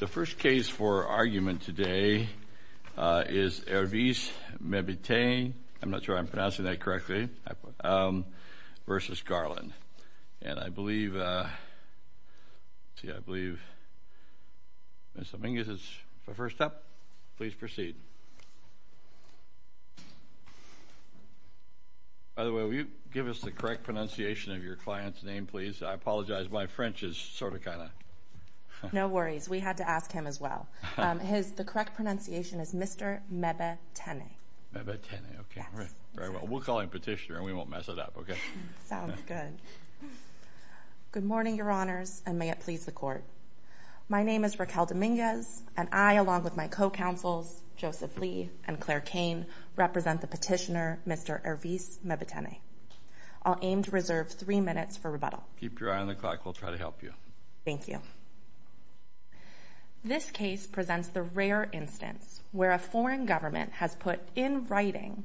The first case for argument today is Hervise Mbetene v. Garland. And I believe Ms. Amingas is first up. Please proceed. By the way, will you give us the correct pronunciation of your client's name, please? I apologize, my French is sort of, kind of... No worries, we had to ask him as well. The correct pronunciation is Mr. Mbetene. Mbetene, okay, very well. We'll call in a petitioner and we won't mess it up, okay? Sounds good. Good morning, Your Honors, and may it please the Court. My name is Raquel Dominguez, and I, along with my co-counsels, Joseph Lee and Claire Kane, represent the petitioner, Mr. Hervise Mbetene. I'll aim to reserve three minutes for rebuttal. Keep your eye on the clock. We'll try to help you. Thank you. This case presents the rare instance where a foreign government has put in writing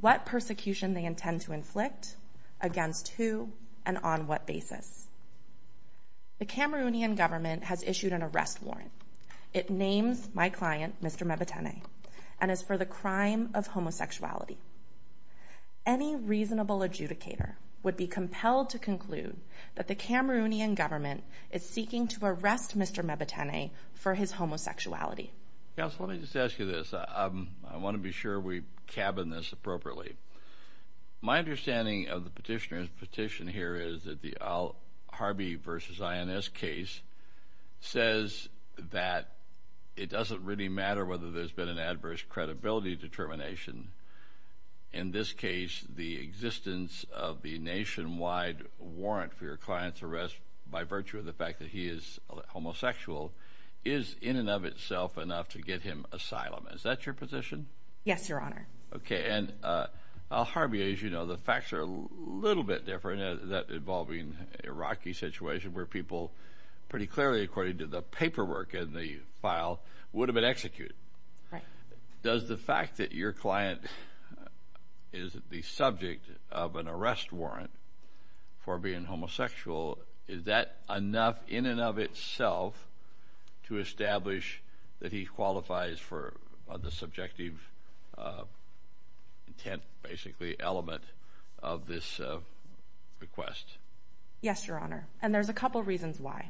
what persecution they intend to inflict, against who, and on what basis. The Cameroonian government has issued an arrest warrant. It names my client, Mr. Mbetene, and is for the crime of homosexuality. Any reasonable adjudicator would be compelled to conclude that the Cameroonian government is seeking to arrest Mr. Mbetene for his homosexuality. Counsel, let me just ask you this. I want to be sure we cabin this appropriately. My understanding of the petitioner's petition here is that the Harvey v. INS case says that it doesn't really matter whether there's been an adverse credibility determination. In this case, the existence of the nationwide warrant for your client's arrest by virtue of the fact that he is homosexual is in and of itself enough to get him asylum. Is that your position? Yes, Your Honor. Okay, and Harvey, as you know, the facts are a little bit different. That involving a rocky situation where people pretty clearly, according to the paperwork in the file, would have been executed. Does the fact that your client is the subject of an arrest warrant for being homosexual, is that enough in and of itself to establish that he qualifies for the subjective intent, basically, element of this request? Yes, Your Honor, and there's a couple reasons why.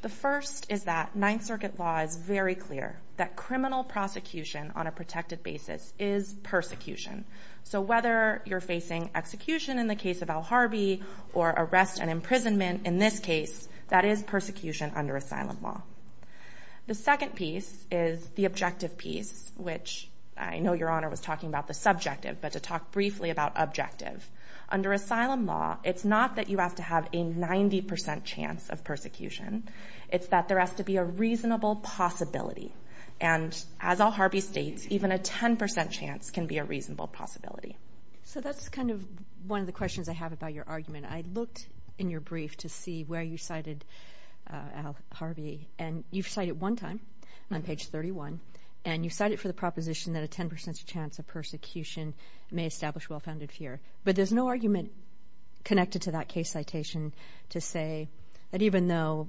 The first is that Ninth Circuit law is very clear that criminal prosecution on a protected basis is persecution. So whether you're facing execution in the case of Al Harvey or arrest and imprisonment in this case, that is persecution under asylum law. The second piece is the objective piece, which I know Your Honor was talking about the subjective, but to talk briefly about objective. Under asylum law, it's not that you have to have a 90% chance of persecution. It's that there has to be a reasonable possibility. And as Al Harvey states, even a 10% chance can be a reasonable possibility. So that's kind of one of the questions I have about your argument. I looked in your brief to see where you cited Al Harvey, and you've cited one time on page 31, and you cited for the proposition that a 10% chance of persecution may establish well-founded fear. But there's no argument connected to that case citation to say that even though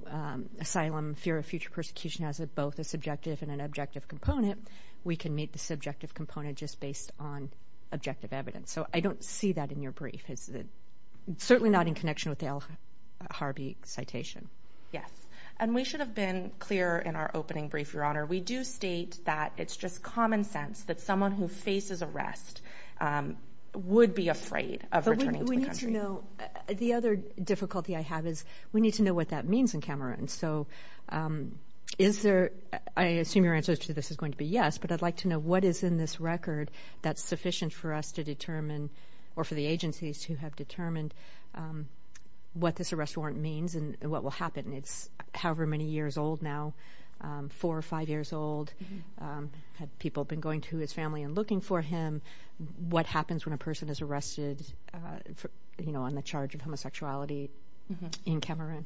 asylum, fear of future persecution has both a subjective and an objective component, we can meet the subjective component just based on objective evidence. So I don't see that in your brief. It's certainly not in connection with the Al Harvey citation. We do state that it's just common sense that someone who faces arrest would be afraid of returning to the country. But we need to know. The other difficulty I have is we need to know what that means in Cameroon. So is there, I assume your answer to this is going to be yes, but I'd like to know what is in this record that's sufficient for us to determine or for the agencies to have determined what this arrest warrant means and what will happen. It's however many years old now, four or five years old. Have people been going to his family and looking for him? What happens when a person is arrested on the charge of homosexuality in Cameroon?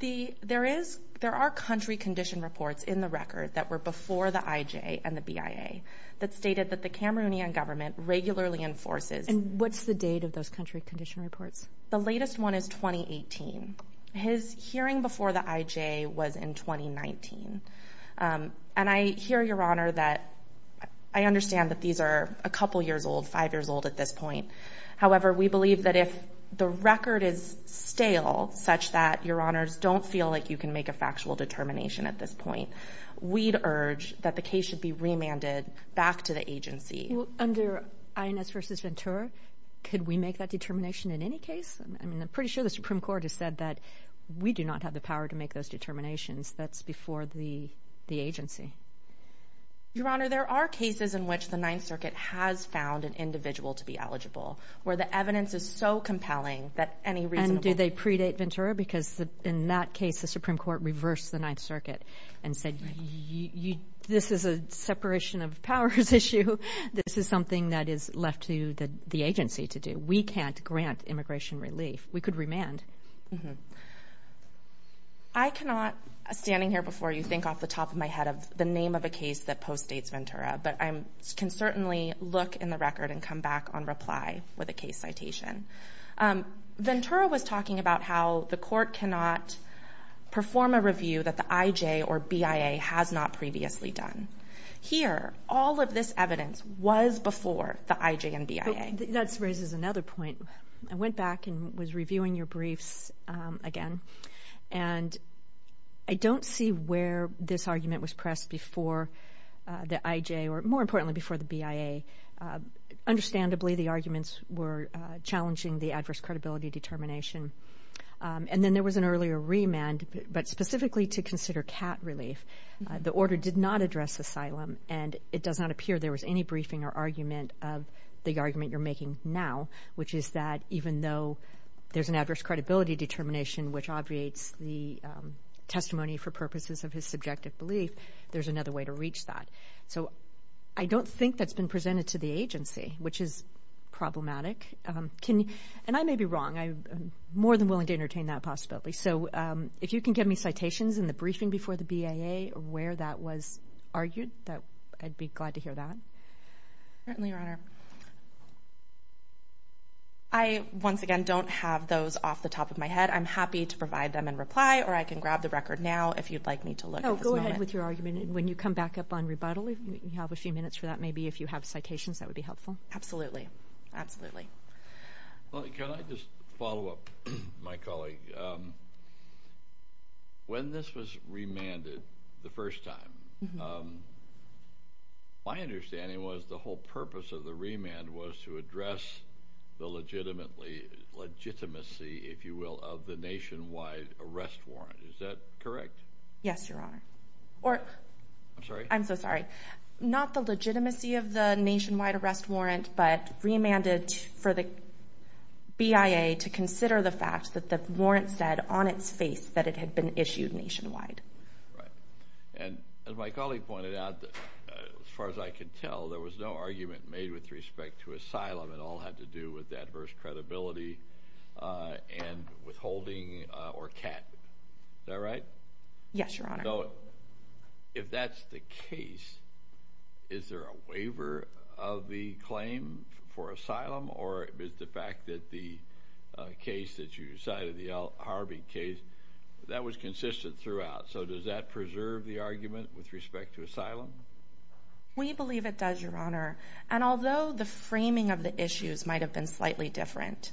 There are country condition reports in the record that were before the IJ and the BIA that stated that the Cameroonian government regularly enforces. And what's the date of those country condition reports? The latest one is 2018. His hearing before the IJ was in 2019. And I hear, Your Honor, that I understand that these are a couple years old, five years old at this point. However, we believe that if the record is stale such that, Your Honors, don't feel like you can make a factual determination at this point, we'd urge that the case should be remanded back to the agency. Under INS versus Ventura, could we make that determination in any case? I'm pretty sure the Supreme Court has said that we do not have the power to make those determinations. That's before the agency. Your Honor, there are cases in which the Ninth Circuit has found an individual to be eligible where the evidence is so compelling that any reasonable— And do they predate Ventura because in that case the Supreme Court reversed the Ninth Circuit and said this is a separation of powers issue. This is something that is left to the agency to do. We can't grant immigration relief. We could remand. I cannot, standing here before you, think off the top of my head of the name of a case that postdates Ventura, but I can certainly look in the record and come back on reply with a case citation. Ventura was talking about how the court cannot perform a review that the IJ or BIA has not previously done. Here, all of this evidence was before the IJ and BIA. That raises another point. I went back and was reviewing your briefs again, and I don't see where this argument was pressed before the IJ or, more importantly, before the BIA. Understandably, the arguments were challenging the adverse credibility determination. And then there was an earlier remand, but specifically to consider CAT relief. The order did not address asylum, and it does not appear there was any briefing or argument of the argument you're making now, which is that even though there's an adverse credibility determination, which obviates the testimony for purposes of his subjective belief, there's another way to reach that. So I don't think that's been presented to the agency, which is problematic. And I may be wrong. I'm more than willing to entertain that possibility. So if you can give me citations in the briefing before the BIA where that was argued, I'd be glad to hear that. Certainly, Your Honor. I, once again, don't have those off the top of my head. I'm happy to provide them in reply, or I can grab the record now if you'd like me to look at this moment. Oh, go ahead with your argument. And when you come back up on rebuttal, if you have a few minutes for that, maybe if you have citations, that would be helpful. Absolutely. Absolutely. Well, can I just follow up, my colleague? When this was remanded the first time, my understanding was the whole purpose of the remand was to address the legitimacy, if you will, of the nationwide arrest warrant. Is that correct? Yes, Your Honor. I'm sorry? I'm so sorry. Not the legitimacy of the nationwide arrest warrant, but remanded for the BIA to consider the fact that the warrant said on its face that it had been issued nationwide. Right. And as my colleague pointed out, as far as I can tell, there was no argument made with respect to asylum. It all had to do with adverse credibility and withholding or cap. Is that right? Yes, Your Honor. So if that's the case, is there a waiver of the claim for asylum, or is the fact that the case that you cited, the Harvey case, that was consistent throughout? So does that preserve the argument with respect to asylum? We believe it does, Your Honor. And although the framing of the issues might have been slightly different,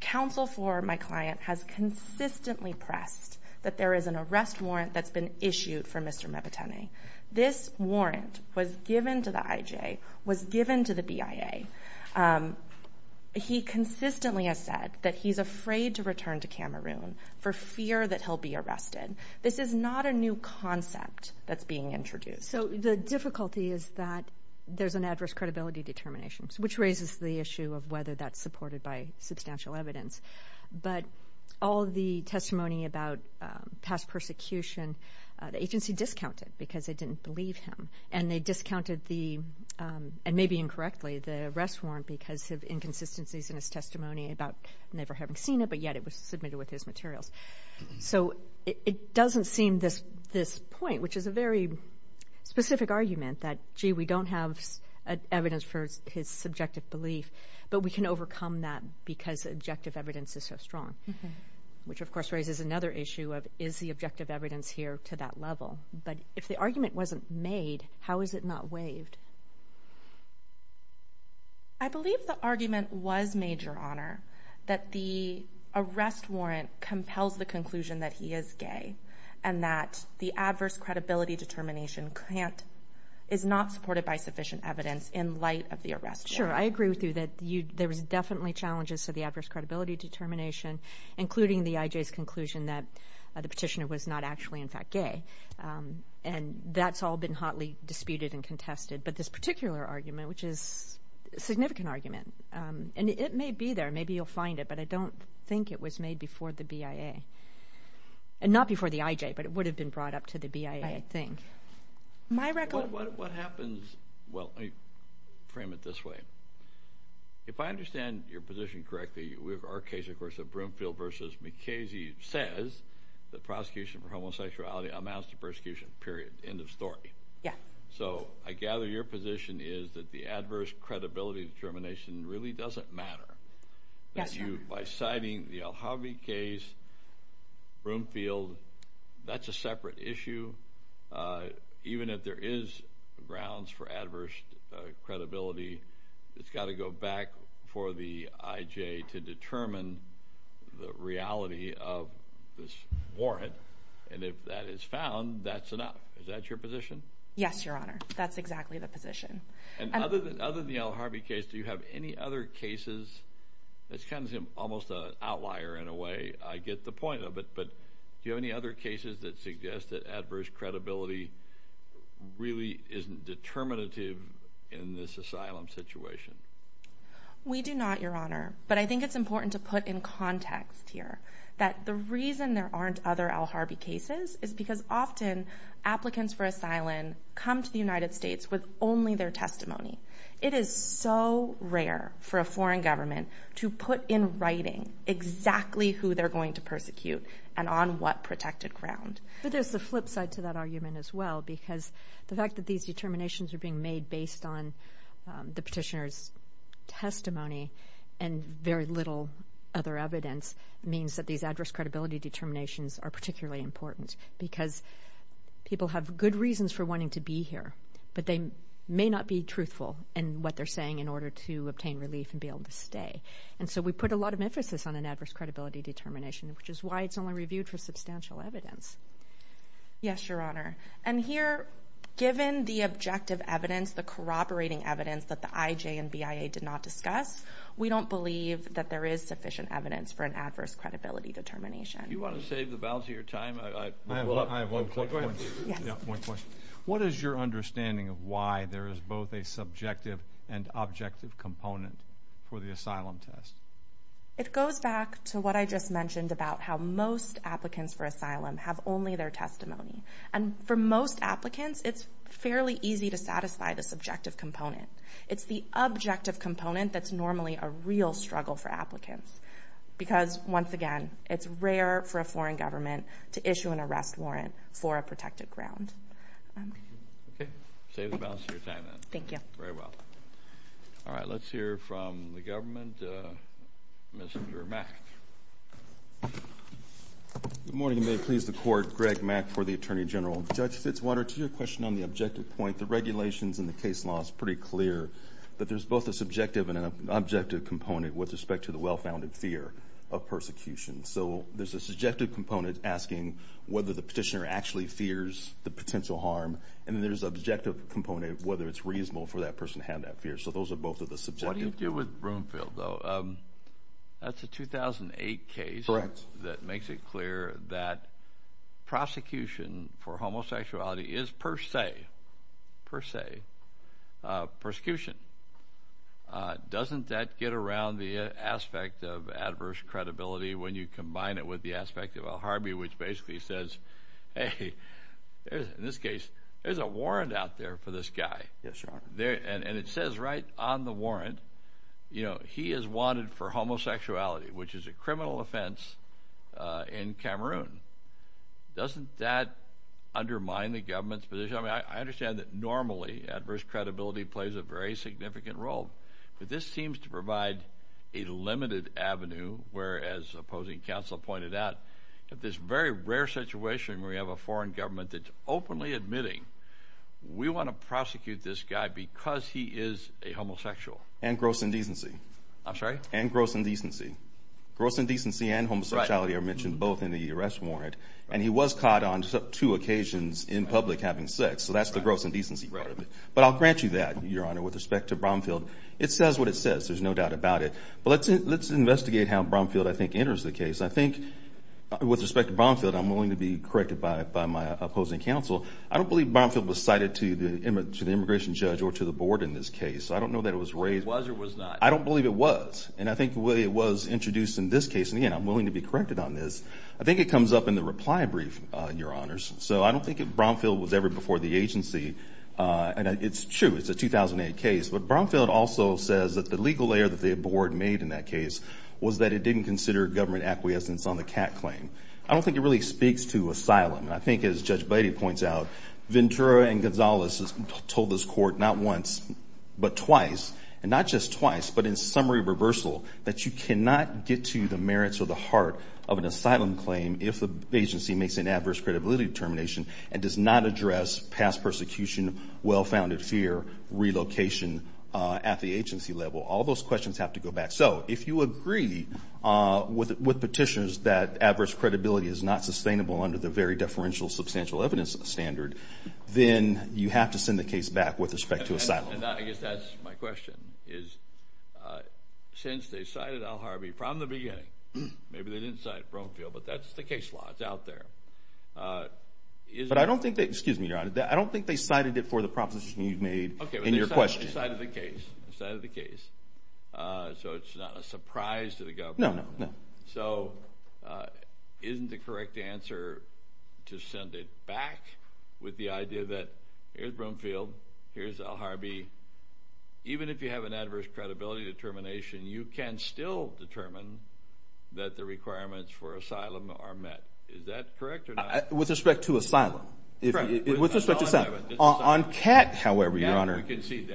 counsel for my client has consistently pressed that there is an arrest warrant that's been issued for Mr. Mepitani. This warrant was given to the IJ, was given to the BIA. He consistently has said that he's afraid to return to Cameroon for fear that he'll be arrested. This is not a new concept that's being introduced. So the difficulty is that there's an adverse credibility determination, which raises the issue of whether that's supported by substantial evidence. But all the testimony about past persecution, the agency discounted because they didn't believe him, and they discounted the, and maybe incorrectly, the arrest warrant because of inconsistencies in his testimony about never having seen it, but yet it was submitted with his materials. So it doesn't seem this point, which is a very specific argument that, gee, we don't have evidence for his subjective belief, but we can overcome that because objective evidence is so strong, which, of course, raises another issue of is the objective evidence here to that level. But if the argument wasn't made, how is it not waived? I believe the argument was made, Your Honor, that the arrest warrant compels the conclusion that he is gay and that the adverse credibility determination is not supported by sufficient evidence in light of the arrest warrant. Sure. I agree with you that there was definitely challenges to the adverse credibility determination, including the IJ's conclusion that the petitioner was not actually, in fact, gay. And that's all been hotly disputed and contested. But this particular argument, which is a significant argument, and it may be there. Maybe you'll find it, but I don't think it was made before the BIA. And not before the IJ, but it would have been brought up to the BIA, I think. My record. What happens, well, let me frame it this way. If I understand your position correctly, we have our case, of course, amounts to persecution, period. End of story. Yeah. So I gather your position is that the adverse credibility determination really doesn't matter. Yes, sir. By citing the Alhavi case, Broomfield, that's a separate issue. Even if there is grounds for adverse credibility, it's got to go back for the IJ to determine the reality of this warrant. And if that is found, that's enough. Is that your position? Yes, Your Honor. That's exactly the position. And other than the Alhavi case, do you have any other cases? That's kind of almost an outlier in a way. I get the point of it, but do you have any other cases that suggest that adverse credibility really isn't determinative in this asylum situation? We do not, Your Honor. But I think it's important to put in context here that the reason there aren't other Alhavi cases is because often applicants for asylum come to the United States with only their testimony. It is so rare for a foreign government to put in writing exactly who they're going to persecute and on what protected ground. But there's the flip side to that argument as well, because the fact that these determinations are being made based on the petitioner's testimony and very little other evidence means that these adverse credibility determinations are particularly important because people have good reasons for wanting to be here, but they may not be truthful in what they're saying in order to obtain relief and be able to stay. And so we put a lot of emphasis on an adverse credibility determination, which is why it's only reviewed for substantial evidence. Yes, Your Honor. And here, given the objective evidence, the corroborating evidence that the IJ and BIA did not discuss, we don't believe that there is sufficient evidence for an adverse credibility determination. Do you want to save the balance of your time? I have one quick question. What is your understanding of why there is both a subjective and objective component for the asylum test? It goes back to what I just mentioned about how most applicants for asylum have only their testimony. And for most applicants, it's fairly easy to satisfy the subjective component. It's the objective component that's normally a real struggle for applicants because, once again, it's rare for a foreign government to issue an arrest warrant for a protected ground. Okay. Save the balance of your time, then. Thank you. Very well. All right, let's hear from the government. Mr. Mack. Good morning, and may it please the Court. Greg Mack for the Attorney General. Judge Fitzwater, to your question on the objective point, the regulations in the case law is pretty clear that there's both a subjective and an objective component with respect to the well-founded fear of persecution. So there's a subjective component asking whether the petitioner actually fears the potential harm, and then there's an objective component of whether it's reasonable for that person to have that fear. So those are both of the subjective. What do you do with Broomfield, though? That's a 2008 case. Correct. That makes it clear that prosecution for homosexuality is per se, per se, persecution. Doesn't that get around the aspect of adverse credibility when you combine it with the aspect of Al Harby, which basically says, hey, in this case, there's a warrant out there for this guy. Yes, Your Honor. And it says right on the warrant, you know, he is wanted for homosexuality, which is a criminal offense in Cameroon. Doesn't that undermine the government's position? I mean, I understand that normally adverse credibility plays a very significant role, but this seems to provide a limited avenue where, as opposing counsel pointed out, in this very rare situation where you have a foreign government that's openly admitting, we want to prosecute this guy because he is a homosexual. And gross indecency. I'm sorry? And gross indecency. Gross indecency and homosexuality are mentioned both in the arrest warrant, and he was caught on two occasions in public having sex. So that's the gross indecency part of it. But I'll grant you that, Your Honor, with respect to Broomfield. It says what it says. There's no doubt about it. But let's investigate how Broomfield, I think, enters the case. I think with respect to Broomfield, I'm willing to be corrected by my opposing counsel. I don't believe Broomfield was cited to the immigration judge or to the board in this case. I don't know that it was raised. Was or was not? I don't believe it was. And I think the way it was introduced in this case, and, again, I'm willing to be corrected on this, I think it comes up in the reply brief, Your Honors. So I don't think Broomfield was ever before the agency. And it's true. It's a 2008 case. But Broomfield also says that the legal error that the board made in that case was that it didn't consider government acquiescence on the cat claim. I don't think it really speaks to asylum. And I think, as Judge Beatty points out, Ventura and Gonzalez told this court not once, but twice, and not just twice, but in summary reversal, that you cannot get to the merits or the heart of an asylum claim if the agency makes an adverse credibility determination and does not address past persecution, well-founded fear, relocation at the agency level. All those questions have to go back. So if you agree with petitioners that adverse credibility is not sustainable under the very deferential substantial evidence standard, then you have to send the case back with respect to asylum. And I guess that's my question, is since they cited Al Harvey from the beginning, maybe they didn't cite Broomfield, but that's the case law. It's out there. But I don't think they cited it for the proposition you made in your question. They cited the case. They cited the case. So it's not a surprise to the government. No, no, no. So isn't the correct answer to send it back with the idea that here's Broomfield, here's Al Harvey. Even if you have an adverse credibility determination, you can still determine that the requirements for asylum are met. Is that correct or not? With respect to asylum. Correct. With respect to asylum. On cat, however, Your Honor. We can see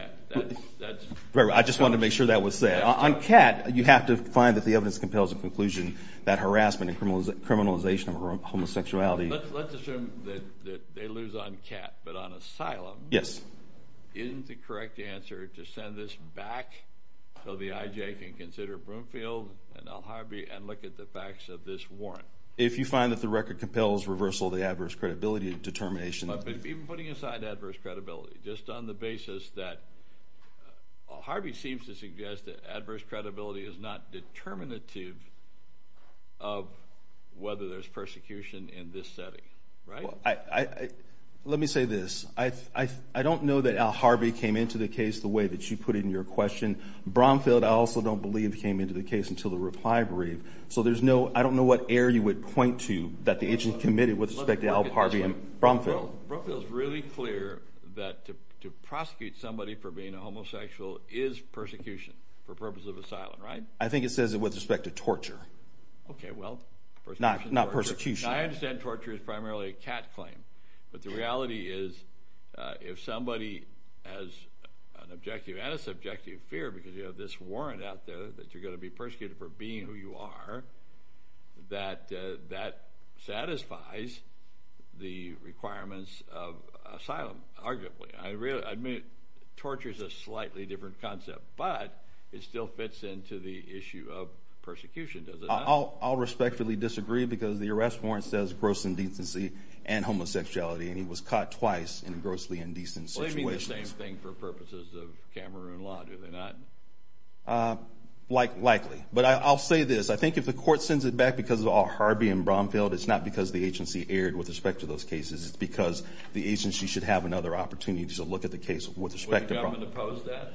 that. I just wanted to make sure that was said. On cat, you have to find that the evidence compels a conclusion that harassment and criminalization of homosexuality. Let's assume that they lose on cat, but on asylum. Yes. Isn't the correct answer to send this back so the IJ can consider Broomfield and Al Harvey and look at the facts of this warrant? If you find that the record compels reversal of the adverse credibility determination. Even putting aside adverse credibility, just on the basis that Harvey seems to suggest that adverse credibility is not determinative of whether there's persecution in this setting, right? Let me say this. I don't know that Al Harvey came into the case the way that you put it in your question. Broomfield, I also don't believe, came into the case until the reply brief. I don't know what error you would point to that the IJ committed with respect to Al Harvey and Broomfield. Broomfield is really clear that to prosecute somebody for being a homosexual is persecution for purpose of asylum, right? I think it says it with respect to torture. Okay, well. Not persecution. I understand torture is primarily a cat claim, but the reality is if somebody has an objective and a subjective fear because you have this warrant out there that you're going to be persecuted for being who you are, that satisfies the requirements of asylum, arguably. I admit torture is a slightly different concept, but it still fits into the issue of persecution, does it not? I'll respectfully disagree because the arrest warrant says gross indecency and homosexuality, and he was caught twice in a grossly indecent situation. They do the same thing for purposes of Cameroon law, do they not? Likely. But I'll say this. I think if the court sends it back because of Al Harvey and Broomfield, it's not because the agency erred with respect to those cases. It's because the agency should have another opportunity to look at the case with respect to Broomfield. Would the government oppose that?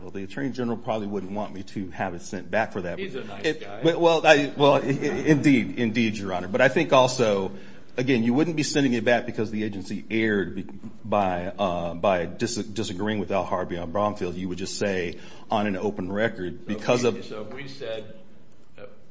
Well, the Attorney General probably wouldn't want me to have it sent back for that. He's a nice guy. Well, indeed, indeed, Your Honor. But I think also, again, you wouldn't be sending it back because the agency erred by disagreeing with Al Harvey on Broomfield. You would just say on an open record because of. So if we said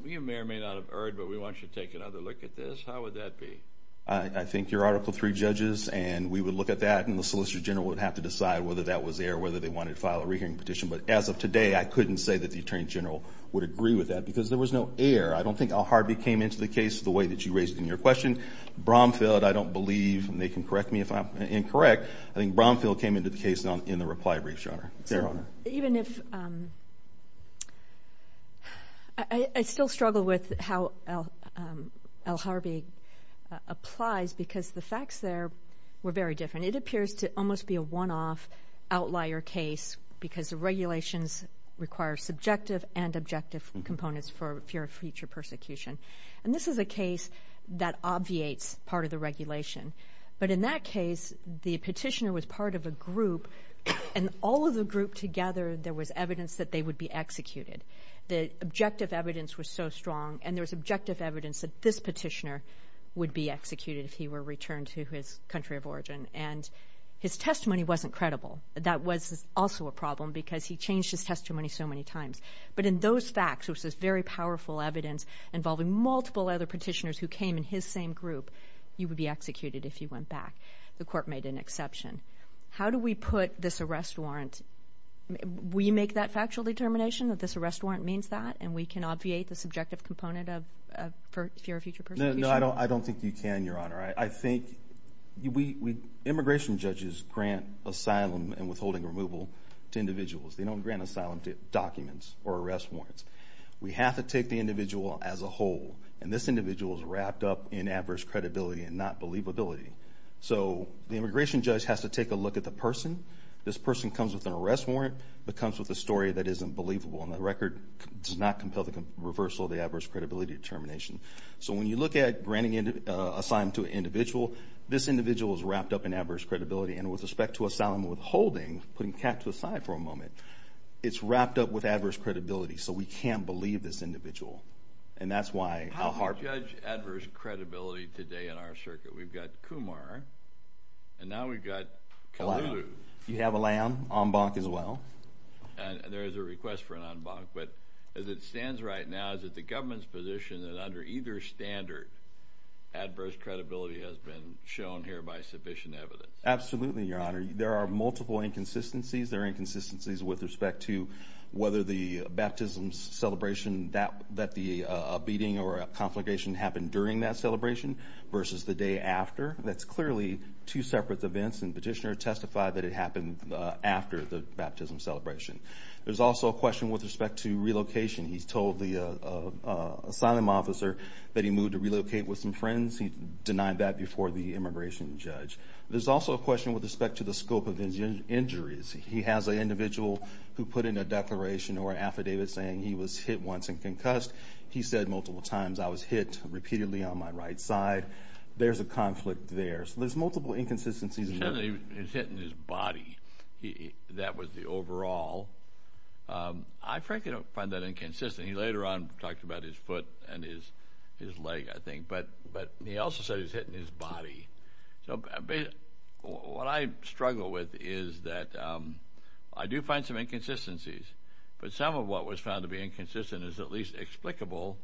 we may or may not have erred, but we want you to take another look at this, how would that be? I think your Article III judges and we would look at that, and the Solicitor General would have to decide whether that was there or whether they wanted to file a rehearing petition. But as of today, I couldn't say that the Attorney General would agree with that because there was no error. I don't think Al Harvey came into the case the way that you raised in your question. Broomfield, I don't believe, and they can correct me if I'm incorrect, I think Broomfield came into the case in the reply brief, Your Honor. I still struggle with how Al Harvey applies because the facts there were very different. It appears to almost be a one-off outlier case because the regulations require subjective and objective components for fear of future persecution. And this is a case that obviates part of the regulation. But in that case, the petitioner was part of a group, and all of the group together there was evidence that they would be executed. The objective evidence was so strong, and there was objective evidence that this petitioner would be executed if he were returned to his country of origin. And his testimony wasn't credible. That was also a problem because he changed his testimony so many times. But in those facts, which was very powerful evidence involving multiple other petitioners who came in his same group, you would be executed if you went back. The court made an exception. How do we put this arrest warrant? Will you make that factual determination that this arrest warrant means that, and we can obviate the subjective component of fear of future persecution? No, I don't think you can, Your Honor. I think immigration judges grant asylum and withholding removal to individuals. They don't grant asylum documents or arrest warrants. We have to take the individual as a whole, and this individual is wrapped up in adverse credibility and not believability. So the immigration judge has to take a look at the person. This person comes with an arrest warrant but comes with a story that isn't believable, and the record does not compel the reversal of the adverse credibility determination. So when you look at granting asylum to an individual, this individual is wrapped up in adverse credibility. And with respect to asylum and withholding, putting Kat to the side for a moment, it's wrapped up with adverse credibility, so we can't believe this individual. And that's why I'll harp on that. How do you judge adverse credibility today in our circuit? We've got Kumar, and now we've got Kalu. You have a lamb en banc as well. There is a request for an en banc. But as it stands right now, is it the government's position that under either standard, adverse credibility has been shown here by sufficient evidence? Absolutely, Your Honor. There are multiple inconsistencies. There are inconsistencies with respect to whether the baptism celebration, that the beating or conflagration happened during that celebration versus the day after. That's clearly two separate events, and the petitioner testified that it happened after the baptism celebration. There's also a question with respect to relocation. He's told the asylum officer that he moved to relocate with some friends. He denied that before the immigration judge. There's also a question with respect to the scope of his injuries. He has an individual who put in a declaration or affidavit saying he was hit once and concussed. He said multiple times, I was hit repeatedly on my right side. There's a conflict there. So there's multiple inconsistencies. He said that he was hit in his body. That was the overall. I frankly don't find that inconsistent. He later on talked about his foot and his leg, I think. But he also said he was hit in his body. What I struggle with is that I do find some inconsistencies, but some of what was found to be inconsistent is at least explicable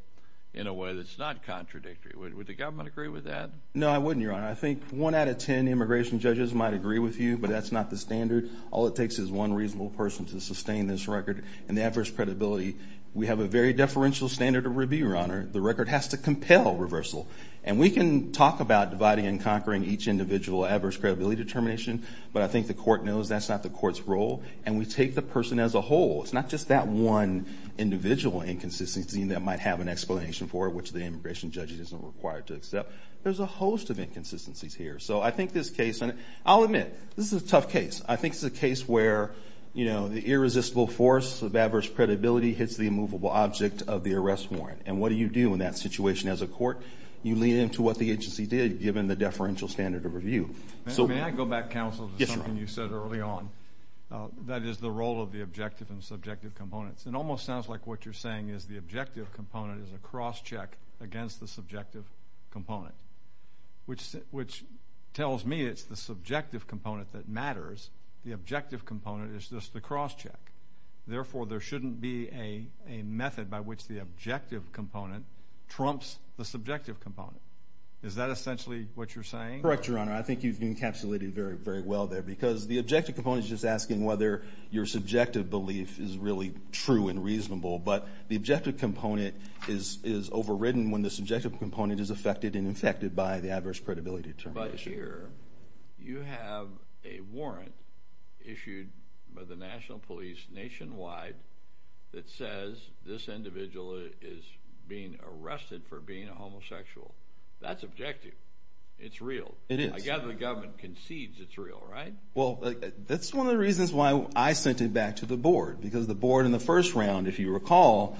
in a way that's not contradictory. No, I wouldn't, Your Honor. I think one out of ten immigration judges might agree with you, but that's not the standard. All it takes is one reasonable person to sustain this record and the adverse credibility. We have a very deferential standard of review, Your Honor. The record has to compel reversal. And we can talk about dividing and conquering each individual adverse credibility determination, but I think the court knows that's not the court's role, and we take the person as a whole. It's not just that one individual inconsistency that might have an explanation for it, which the immigration judge isn't required to accept. There's a host of inconsistencies here. So I think this case, and I'll admit, this is a tough case. I think it's a case where, you know, the irresistible force of adverse credibility hits the immovable object of the arrest warrant. And what do you do in that situation as a court? You lean into what the agency did, given the deferential standard of review. May I go back, counsel, to something you said early on? That is the role of the objective and subjective components. It almost sounds like what you're saying is the objective component is a cross-check against the subjective component, which tells me it's the subjective component that matters. The objective component is just the cross-check. Therefore, there shouldn't be a method by which the objective component trumps the subjective component. Is that essentially what you're saying? Correct, Your Honor. I think you've encapsulated very, very well there, because the objective component is just asking whether your subjective belief is really true and reasonable. But the objective component is overridden when the subjective component is affected and infected by the adverse credibility determination. But here you have a warrant issued by the national police nationwide that says this individual is being arrested for being a homosexual. That's objective. It's real. It is. I gather the government concedes it's real, right? Well, that's one of the reasons why I sent it back to the board, because the board in the first round, if you recall,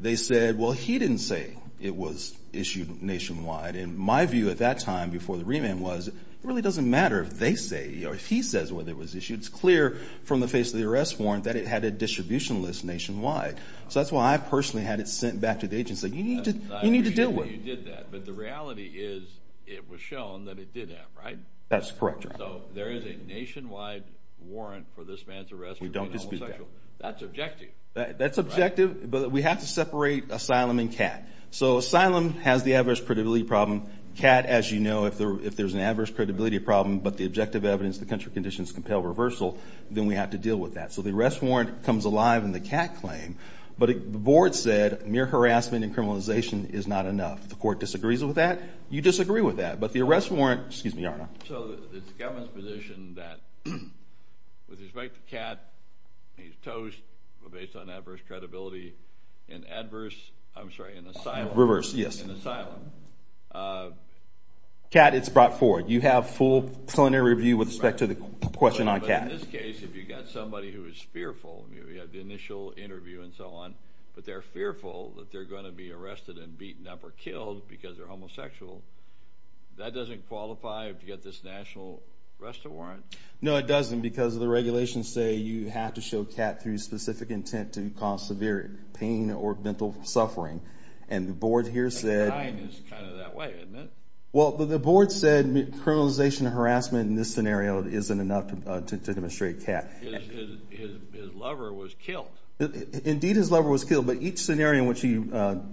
they said, well, he didn't say it was issued nationwide. And my view at that time before the remand was it really doesn't matter if they say or if he says whether it was issued. It's clear from the face of the arrest warrant that it had a distribution list nationwide. So that's why I personally had it sent back to the agency. You need to deal with it. But the reality is it was shown that it did have, right? That's correct, Your Honor. So there is a nationwide warrant for this man's arrest for being a homosexual. That's objective. That's objective. But we have to separate asylum and CAT. So asylum has the adverse credibility problem. CAT, as you know, if there's an adverse credibility problem but the objective evidence, the country conditions compel reversal, then we have to deal with that. So the arrest warrant comes alive in the CAT claim. But the board said mere harassment and criminalization is not enough. The court disagrees with that. You disagree with that. But the arrest warrant, excuse me, Your Honor. So it's the government's position that with respect to CAT, he's toast based on adverse credibility in adverse, I'm sorry, in asylum. Reverse, yes. In asylum. CAT, it's brought forward. You have full preliminary review with respect to the question on CAT. But in this case, if you've got somebody who is fearful, you have the initial interview and so on, but they're fearful that they're going to be arrested and beaten up or killed because they're homosexual, that doesn't qualify to get this national arrest warrant? No, it doesn't because the regulations say you have to show CAT through specific intent to cause severe pain or mental suffering. And the board here said. That's kind of that way, isn't it? Well, the board said criminalization and harassment in this scenario isn't enough to demonstrate CAT. His lover was killed. Indeed, his lover was killed. But each scenario in which he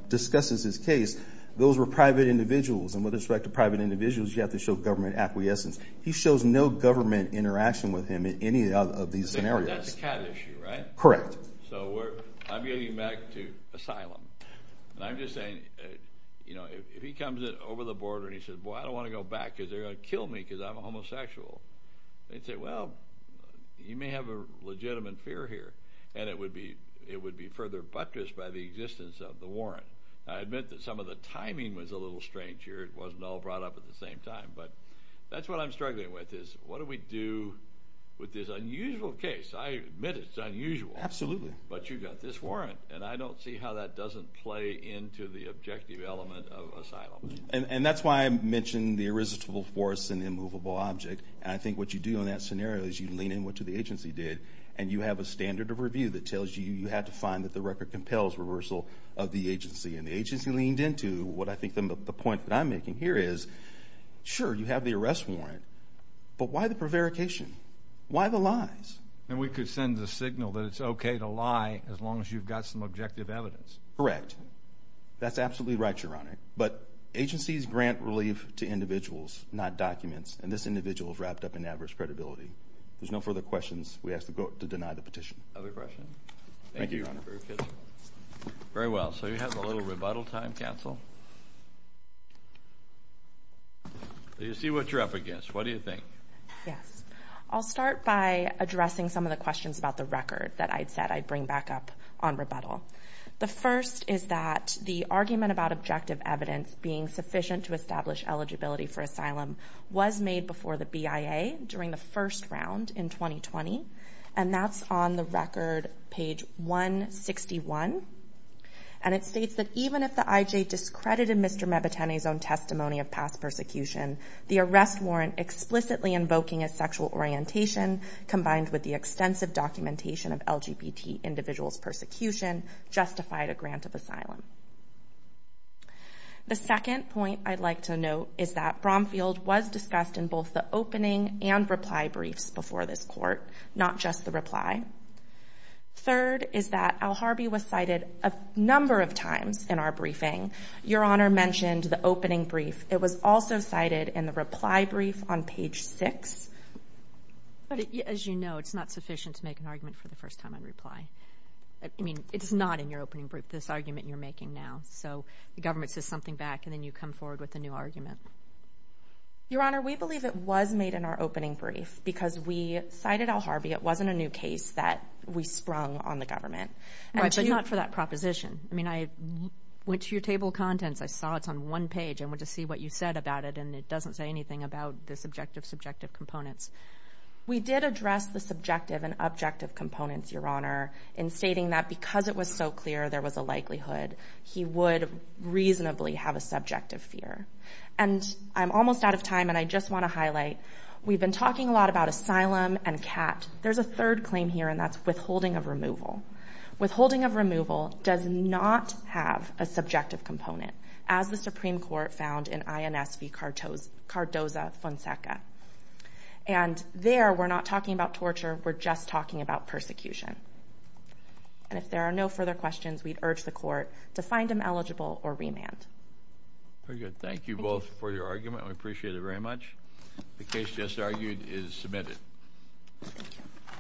discusses his case, those were private individuals. And with respect to private individuals, you have to show government acquiescence. He shows no government interaction with him in any of these scenarios. That's a CAT issue, right? Correct. So I'm getting back to asylum. And I'm just saying, you know, if he comes in over the border and he says, boy, I don't want to go back because they're going to kill me because I'm a homosexual, they'd say, well, you may have a legitimate fear here. And it would be further buttressed by the existence of the warrant. I admit that some of the timing was a little strange here. It wasn't all brought up at the same time. But that's what I'm struggling with is what do we do with this unusual case? I admit it's unusual. Absolutely. But you've got this warrant. And I don't see how that doesn't play into the objective element of asylum. And that's why I mentioned the irresistible force and immovable object. And I think what you do in that scenario is you lean into what the agency did, and you have a standard of review that tells you you have to find that the record compels reversal of the agency. And the agency leaned into what I think the point that I'm making here is, sure, you have the arrest warrant, but why the prevarication? Why the lies? And we could send the signal that it's okay to lie as long as you've got some objective evidence. Correct. That's absolutely right, Your Honor. But agencies grant relief to individuals, not documents. And this individual is wrapped up in adverse credibility. If there's no further questions, we ask to deny the petition. Other questions? Thank you, Your Honor. Very well. So we have a little rebuttal time, counsel. I see what you're up against. What do you think? Yes. I'll start by addressing some of the questions about the record that I said I'd bring back up on rebuttal. The first is that the argument about objective evidence being sufficient to establish eligibility for asylum was made before the BIA during the first round in 2020, and that's on the record, page 161. And it states that even if the IJ discredited Mr. Mebitene's own testimony of past persecution, the arrest warrant explicitly invoking a sexual orientation, combined with the extensive documentation of LGBT individuals' persecution, justified a grant of asylum. The second point I'd like to note is that Bromfield was discussed in both the opening and reply briefs before this court, not just the reply. Third is that Alharbi was cited a number of times in our briefing. Your Honor mentioned the opening brief. It was also cited in the reply brief on page 6. But as you know, it's not sufficient to make an argument for the first time on reply. I mean, it's not in your opening brief, this argument you're making now. So the government says something back, and then you come forward with a new argument. Your Honor, we believe it was made in our opening brief because we cited Alharbi. It wasn't a new case that we sprung on the government. But not for that proposition. I mean, I went to your table of contents. I saw it's on one page and went to see what you said about it, and it doesn't say anything about the subjective, subjective components. We did address the subjective and objective components, Your Honor, in stating that because it was so clear there was a likelihood, he would reasonably have a subjective fear. And I'm almost out of time, and I just want to highlight, we've been talking a lot about asylum and CAT. There's a third claim here, and that's withholding of removal. Withholding of removal does not have a subjective component, as the Supreme Court found in INS v. Cardoza-Fonseca. And there, we're not talking about torture. We're just talking about persecution. And if there are no further questions, we'd urge the Court to find him eligible or remand. Very good. Thank you both for your argument. We appreciate it very much. The case just argued is submitted. Thank you.